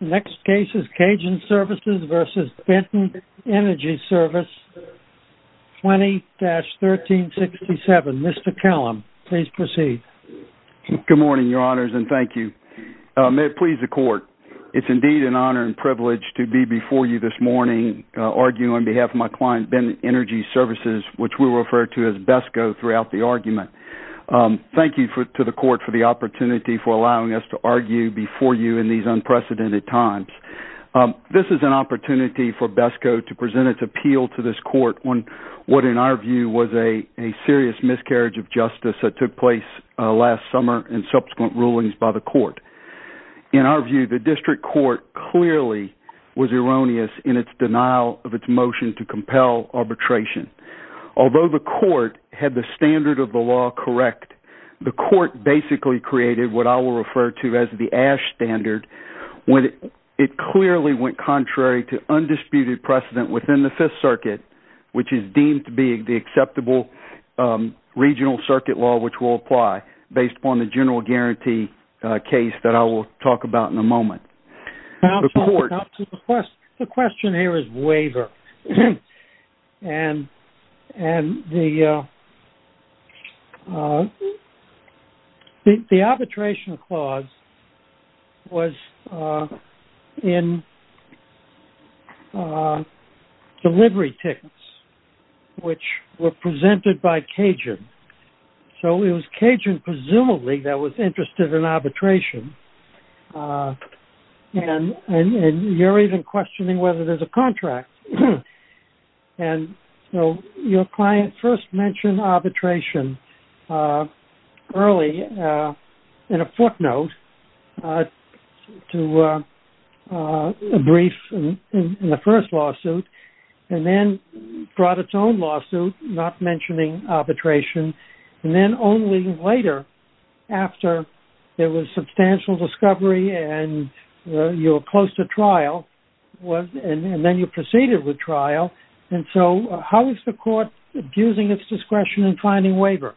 Next case is Cajun Services v. Benton Energy Service, 20-1367. Mr. Callum, please proceed. Good morning, your honors, and thank you. May it please the court, it's indeed an honor and privilege to be before you this morning arguing on behalf of my client, Benton Energy Services, which we refer to as BESCO throughout the argument. Thank you to the court for the precedent at times. This is an opportunity for BESCO to present its appeal to this court on what in our view was a serious miscarriage of justice that took place last summer and subsequent rulings by the court. In our view, the district court clearly was erroneous in its denial of its motion to compel arbitration. Although the court had the standard of the law correct, the court basically created what I will refer to as the AASH standard when it clearly went contrary to undisputed precedent within the Fifth Circuit, which is deemed to be the acceptable regional circuit law which will apply based upon the general guarantee case that I will talk about in a moment. The question here is waiver. The arbitration clause was in delivery tickets which were presented by Cajun. So it was Cajun presumably that was interested in arbitration and you're even questioning whether there's a contract. And so your client first mentioned arbitration early in a footnote to a brief in the first lawsuit and then brought its own lawsuit not mentioning arbitration and then only later after there was substantial discovery and you were close to trial and then you proceeded with trial. And so how is the court abusing its discretion in finding waiver?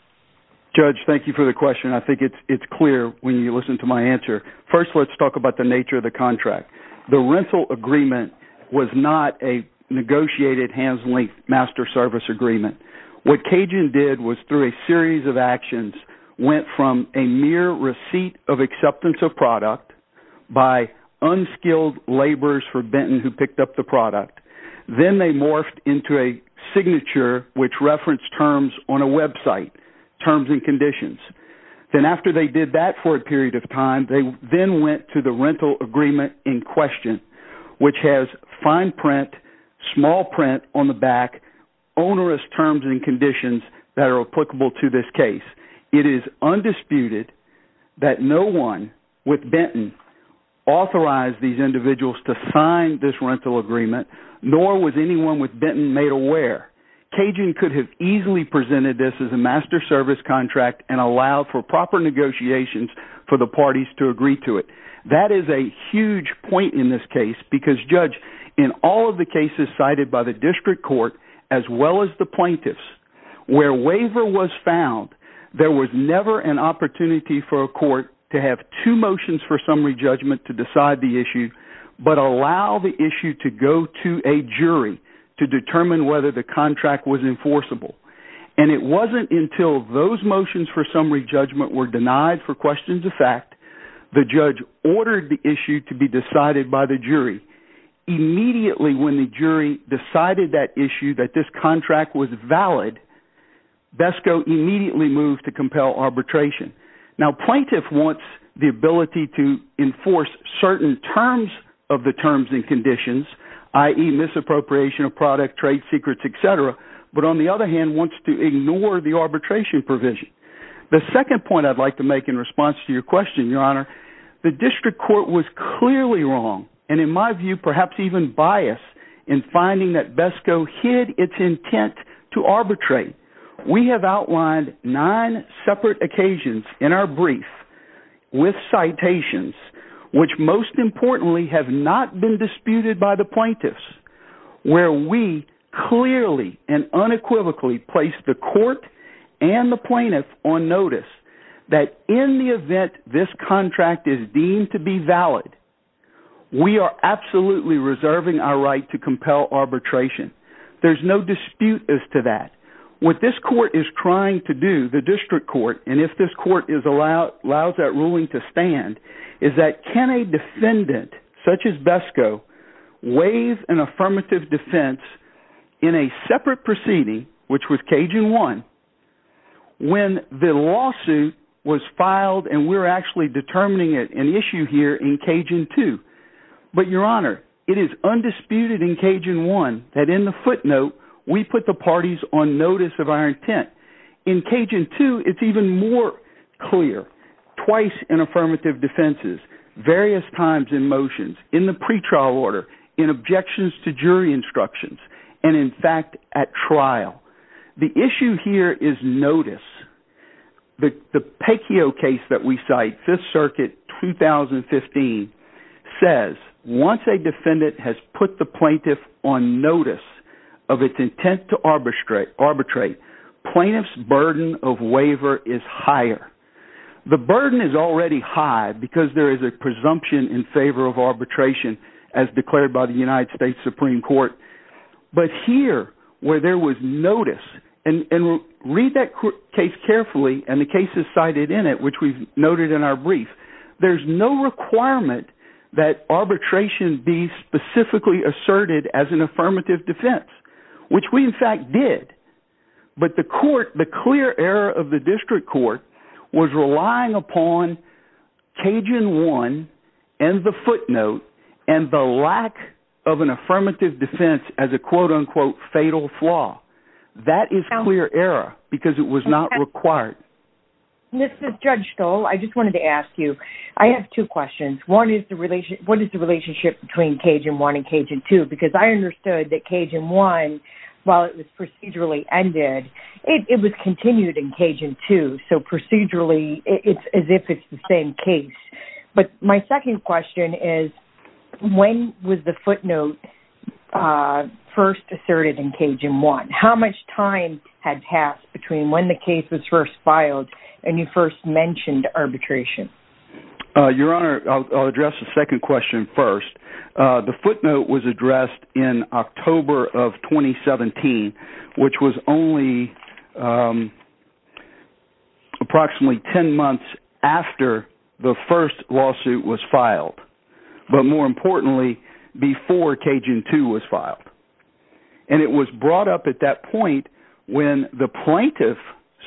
Judge, thank you for the question. I think it's clear when you listen to my answer. First, let's talk about the nature of the contract. The rental agreement was not a negotiated hands-linked master service agreement. What Cajun did was through a series of actions went from a mere receipt of acceptance of product by unskilled laborers for Benton who picked up the product. Then they morphed into a signature which referenced terms on a website, terms and conditions. Then after they did that for a period of time, they then went to the rental agreement in question which has fine print, small print on the back, onerous terms and conditions that are applicable to this case. It is undisputed that no one with this rental agreement nor was anyone with Benton made aware. Cajun could have easily presented this as a master service contract and allowed for proper negotiations for the parties to agree to it. That is a huge point in this case because, Judge, in all of the cases cited by the district court as well as the plaintiffs where waiver was found, there was never an opportunity for a court to have two motions for summary judgment to decide the issue but allow the issue to go to a jury to determine whether the contract was enforceable. It was not until those motions for summary judgment were denied for questions of fact, the judge ordered the issue to be decided by the jury. Immediately when the jury decided that issue, that this contract was valid, BESCO immediately moved to compel arbitration. Now plaintiff wants the ability to enforce certain terms of the terms and conditions, i.e., misappropriation of product, trade secrets, etc., but on the other hand wants to ignore the arbitration provision. The second point I'd like to make in response to your question, Your Honor, the district court was clearly wrong and my view perhaps even biased in finding that BESCO hid its intent to arbitrate. We have outlined nine separate occasions in our brief with citations which most importantly have not been disputed by the plaintiffs where we clearly and unequivocally placed the court and the plaintiff on notice that in the event this contract is deemed to be valid, we are absolutely reserving our right to compel arbitration. There's no dispute as to that. What this court is trying to do, the district court, and if this court allows that ruling to stand, is that can a defendant such as BESCO waive an affirmative defense in a separate proceeding, which was Cajun 1, when the lawsuit was filed and we're actually determining an issue here in Cajun 2. But, Your Honor, it is undisputed in Cajun 1 that in the footnote we put the parties on notice of our intent. In Cajun 2, it's even more clear. Twice in affirmative defenses, various times in motions, in the pretrial order, in objections to jury instructions, and in fact at trial. The issue here is notice. The Peccio case that we cite, 5th Circuit, 2015, says once a defendant has put the plaintiff on notice of its intent to arbitrate, plaintiff's burden of waiver is higher. The burden is already high because there is a presumption in favor of arbitration as declared by the United States Supreme Court. But here, where there was notice, and read that case carefully and the cases cited in it, which we've noted in our brief, there's no requirement that arbitration be specifically asserted as an affirmative defense, which we in fact did. But the court, the clear error of the district court, was relying upon Cajun 1 and the footnote and the lack of an affirmative defense as a quote-unquote fatal flaw. That is clear error because it was not required. This is Judge Stoll. I just wanted to ask you, I have two questions. One is the relationship between Cajun 1 and Cajun 2 because I understood that Cajun 1, while it was procedurally ended, it was continued in Cajun 2. So procedurally, it's as if it's the same case. But my second question is, when was the footnote first asserted in Cajun 1? How much time had passed between when the case was first filed and you first mentioned arbitration? Your Honor, I'll address the second question first. The footnote was addressed in October of 2017, which was only approximately 10 months after the first lawsuit was filed. But more importantly, before Cajun 2 was filed. And it was brought up at that point when the plaintiff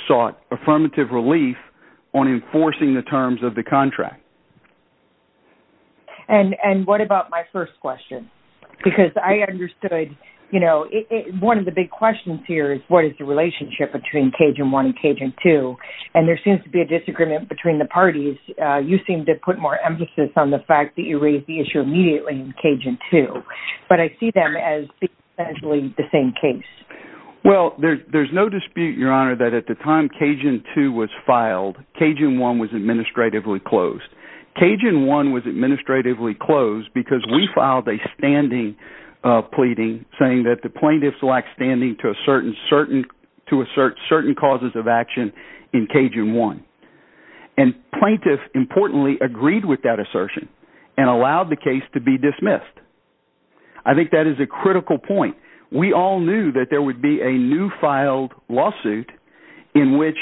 sought affirmative relief on enforcing the terms of the contract. And what about my first question? Because I understood, you know, one of the big questions here is what is the relationship between Cajun 1 and Cajun 2? And there seems to be a disagreement between the parties. You seem to put more emphasis on the fact that you raised the issue immediately in Cajun 2. But I see them as essentially the same case. Well, there's no dispute, Your Honor, that at the time Cajun 2 was filed, Cajun 1 was administratively closed. Cajun 1 was administratively closed because we filed a standing pleading saying that the plaintiffs lack standing to assert certain causes of action in Cajun 1. And plaintiffs, importantly, agreed with that assertion and allowed the case to be dismissed. I think that is a critical point. We all knew that there would be a new filed lawsuit in which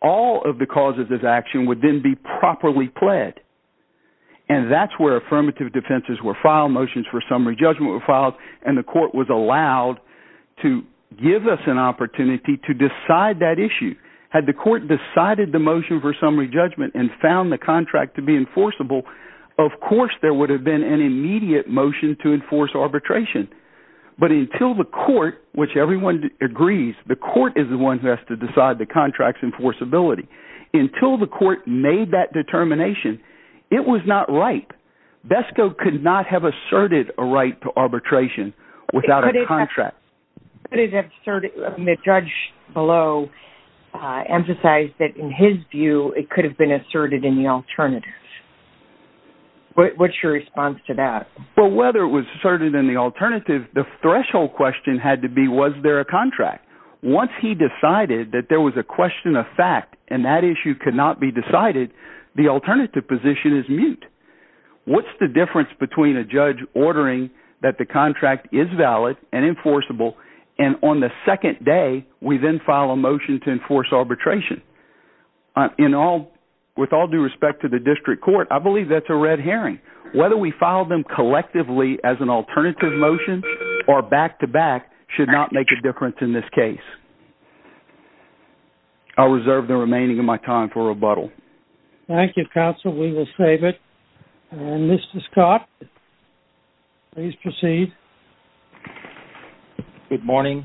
all of the causes of action would then be properly pled. And that's where affirmative defenses were filed, motions for summary judgment were filed, and the court was decided the motion for summary judgment and found the contract to be enforceable. Of course, there would have been an immediate motion to enforce arbitration. But until the court, which everyone agrees, the court is the one who has to decide the contract's enforceability. Until the court made that determination, it was not right. BESCO could not have asserted a right to arbitration without a contract. The judge below emphasized that, in his view, it could have been asserted in the alternative. What's your response to that? Well, whether it was asserted in the alternative, the threshold question had to be, was there a contract? Once he decided that there was a question of fact and that issue could not be decided, the alternative position is mute. What's the difference between a judge ordering that the contract is valid and enforceable, and on the second day, we then file a motion to enforce arbitration? With all due respect to the district court, I believe that's a red herring. Whether we file them collectively as an alternative motion or back-to-back should not make a difference in this case. I'll reserve the remaining of my time for rebuttal. Thank you, counsel. We will save it. Mr. Scott, please proceed. Good morning.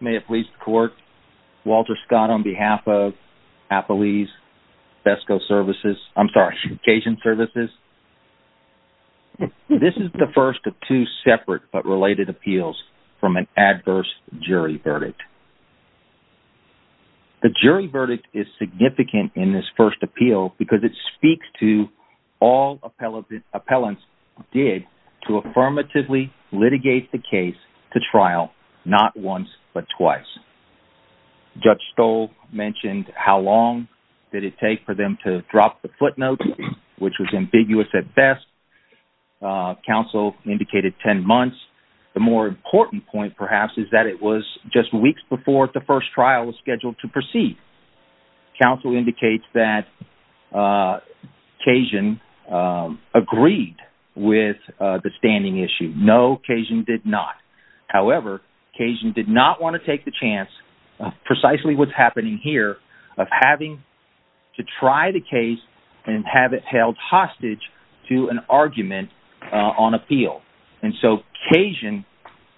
May it please the court, Walter Scott, on behalf of Appalese BESCO Services, I'm sorry, Cajun Services. This is the first of two separate but related appeals from an adverse jury verdict. The jury verdict is significant in this first appeal because it speaks to all appellants did to affirmatively litigate the case to trial, not once but twice. Judge Stoll mentioned how long did it take for them to drop the footnote, which was ambiguous at best. Counsel indicated 10 months. The more important point, perhaps, is that it was just weeks before the first trial was scheduled to proceed. Counsel indicates that Cajun agreed with the standing issue. No, Cajun did not. However, Cajun did not want to take the held hostage to an argument on appeal. And so, Cajun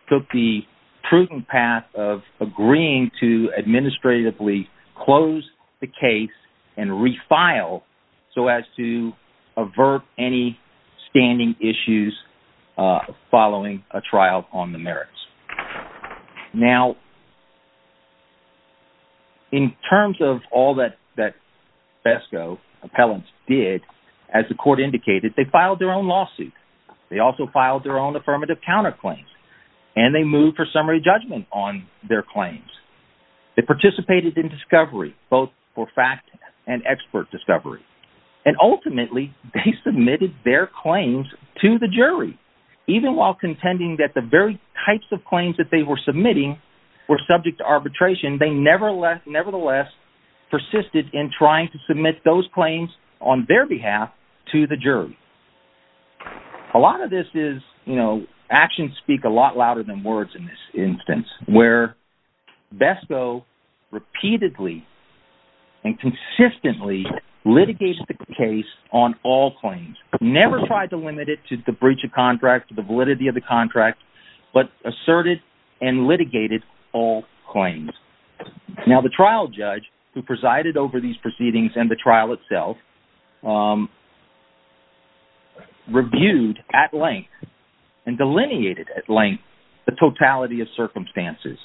took the prudent path of agreeing to administratively close the case and refile so as to avert any standing issues following a trial on the merits. Now, in terms of all that that BESCO appellants did, as the court indicated, they filed their own lawsuit. They also filed their own affirmative counterclaims. And they moved for summary judgment on their claims. They participated in discovery, both for fact and expert discovery. And ultimately, they submitted their claims to the jury, even while contending that the very types of claims that they were submitting were subject to arbitration. They nevertheless persisted in trying to submit those claims on their behalf to the jury. A lot of this is, you know, actions speak a lot louder than words in this instance, where BESCO repeatedly and consistently litigates the case on all claims, never tried to limit it to breach of contract, the validity of the contract, but asserted and litigated all claims. Now, the trial judge who presided over these proceedings and the trial itself reviewed at length and delineated at length the totality of circumstances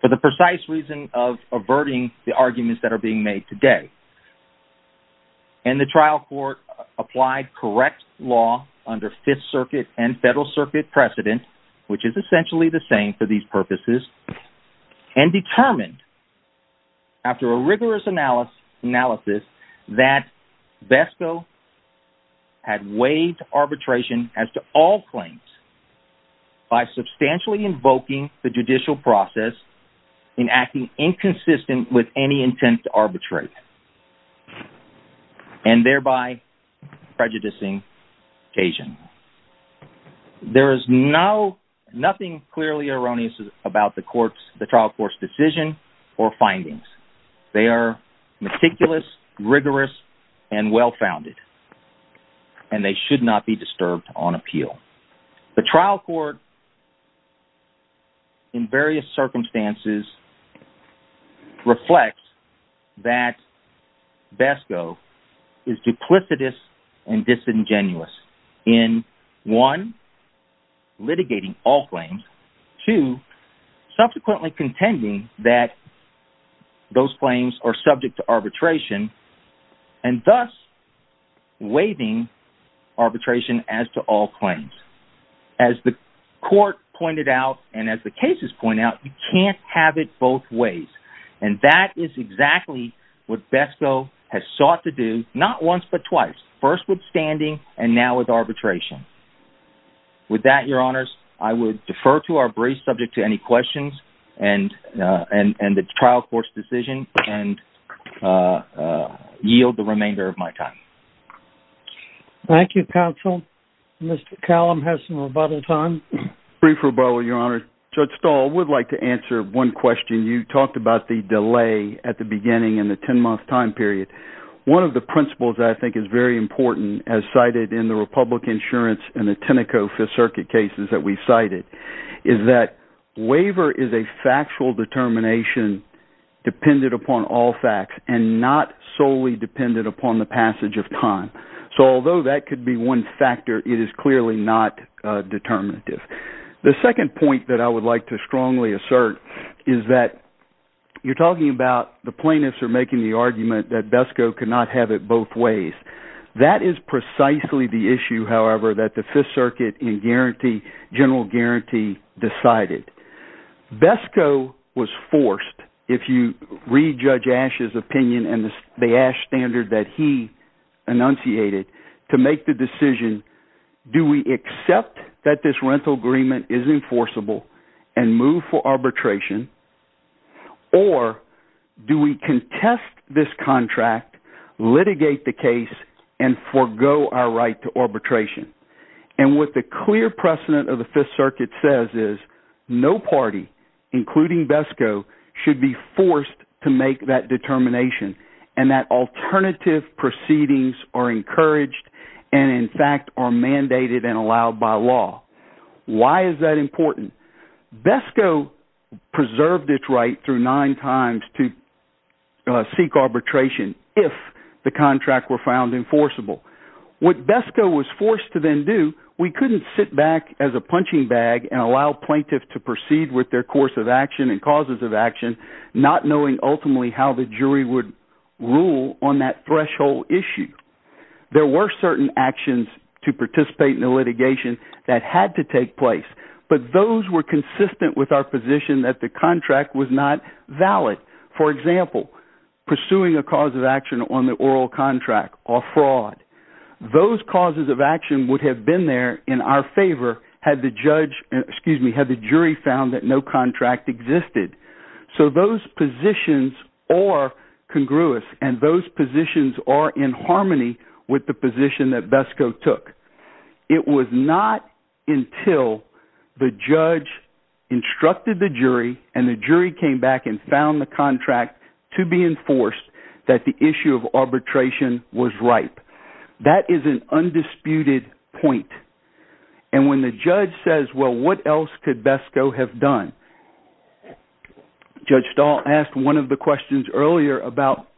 for the precise reason of averting the arguments that are being made today. And the trial court applied correct law under Fifth Circuit and Federal Circuit precedent, which is essentially the same for these purposes, and determined after a rigorous analysis that BESCO had waived arbitration as to all claims by substantially invoking the judicial process in acting inconsistent with any intent to arbitrate, and thereby prejudicing occasion. There is nothing clearly erroneous about the trial court's decision or findings. They are meticulous, rigorous, and well-founded, and they should not be disturbed on appeal. The trial court, in various circumstances, reflects that BESCO is duplicitous and disingenuous in, one, litigating all claims, two, subsequently contending that those claims are subject to arbitration, and thus waiving arbitration as to all claims. As the court pointed out, and as the cases point out, you can't have it both ways. And that is exactly what BESCO has sought to do, not once but twice, first with standing and now with arbitration. With that, your honors, I would defer to our brief subject to any questions and the trial court's decision and yield the remainder of my time. Thank you, counsel. Mr. Callum has some rebuttal time. Brief rebuttal, your honor. Judge Stahl would like to answer one question. You talked about the delay at the beginning in the 10-month time period. One of the principles that I think is very important, as cited in the Republican insurance and the Tenneco Fifth Circuit cases that we cited, is that waiver is a factual determination dependent upon all facts and not solely dependent upon the passage of time. So although that could be one factor, it is clearly not determinative. The second point that I would like to strongly assert is that you're talking about the plaintiffs are making the argument that BESCO could not have it both ways. That is precisely the issue, however, that the Fifth Circuit in general guarantee decided. BESCO was forced, if you read Judge Ashe's opinion and the Ashe standard that he enunciated, to make the case, do we accept that this rental agreement is enforceable and move for arbitration, or do we contest this contract, litigate the case, and forego our right to arbitration? And what the clear precedent of the Fifth Circuit says is no party, including BESCO, should be forced to make that determination and that alternative proceedings are encouraged and in fact are mandated and allowed by law. Why is that important? BESCO preserved its right through nine times to seek arbitration if the contract were found enforceable. What BESCO was forced to then do, we couldn't sit back as a punching bag and allow plaintiffs to proceed with their course of action and causes of action, not knowing ultimately how the jury would rule on that threshold issue. There were certain actions to participate in the litigation that had to take place, but those were consistent with our position that the contract was not valid. For example, pursuing a cause of action on the oral contract or fraud. Those causes of action would have been there in our favor had the jury found that no contract existed. So those positions are congruous and those positions are in harmony with the position that BESCO took. It was not until the judge instructed the jury and the jury came back and found the contract to be enforced that the issue of arbitration was ripe. That is an undisputed point. And when the judge says, well, what else could BESCO have done? Judge Stahl asked one of the questions earlier about,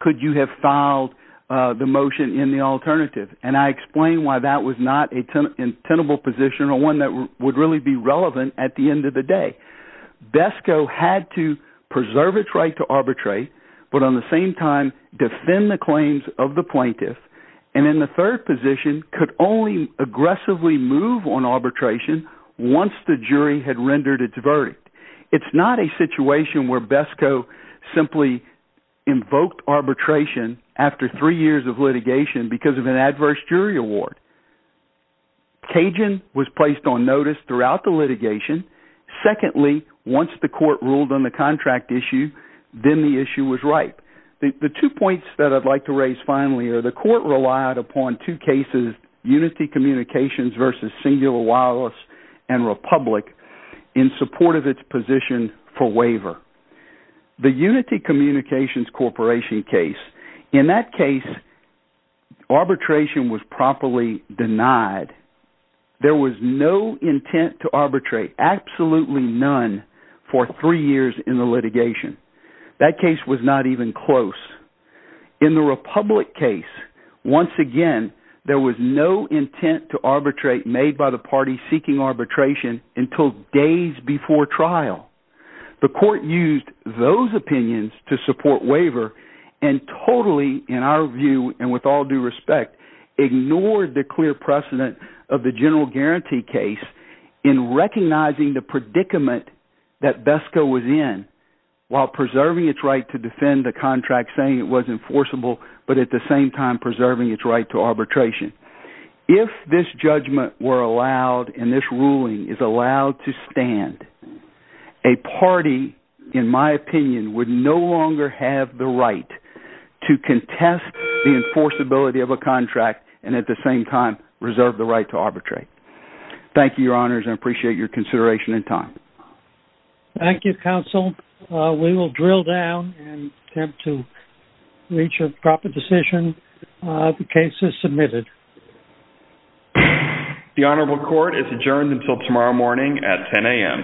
could you have filed the motion in the alternative? And I explained why that was not a tenable position or one that would really be relevant at the end of the day. BESCO had to preserve its right to arbitrate, but on the same time defend the claims of the plaintiff, and in the third position could only aggressively move on arbitration once the jury had rendered its verdict. It's not a situation where BESCO simply invoked arbitration after three years of litigation because of an adverse jury award. Cajun was placed on notice throughout the litigation. Secondly, once the court ruled on the two points that I'd like to raise finally are the court relied upon two cases, Unity Communications versus Singular Wireless and Republic in support of its position for waiver. The Unity Communications Corporation case, in that case, arbitration was properly denied. There was no intent to arbitrate, absolutely none, for three years in the litigation. That case was not even close. In the Republic case, once again, there was no intent to arbitrate made by the party seeking arbitration until days before trial. The court used those opinions to support waiver and totally, in our view, and with all due respect, ignored the clear precedent of the general guarantee case in recognizing the predicament that BESCO was in while preserving its right to defend the contract, saying it was enforceable, but at the same time preserving its right to arbitration. If this judgment were allowed and this ruling is allowed to stand, a party, in my opinion, would no longer have the right to contest the enforceability of a contract and at the same time reserve the right to arbitrate. Thank you, your honors. I appreciate your consideration and time. Thank you, counsel. We will drill down and attempt to reach a proper decision. The case is submitted. The honorable court is adjourned until tomorrow morning at 10 a.m.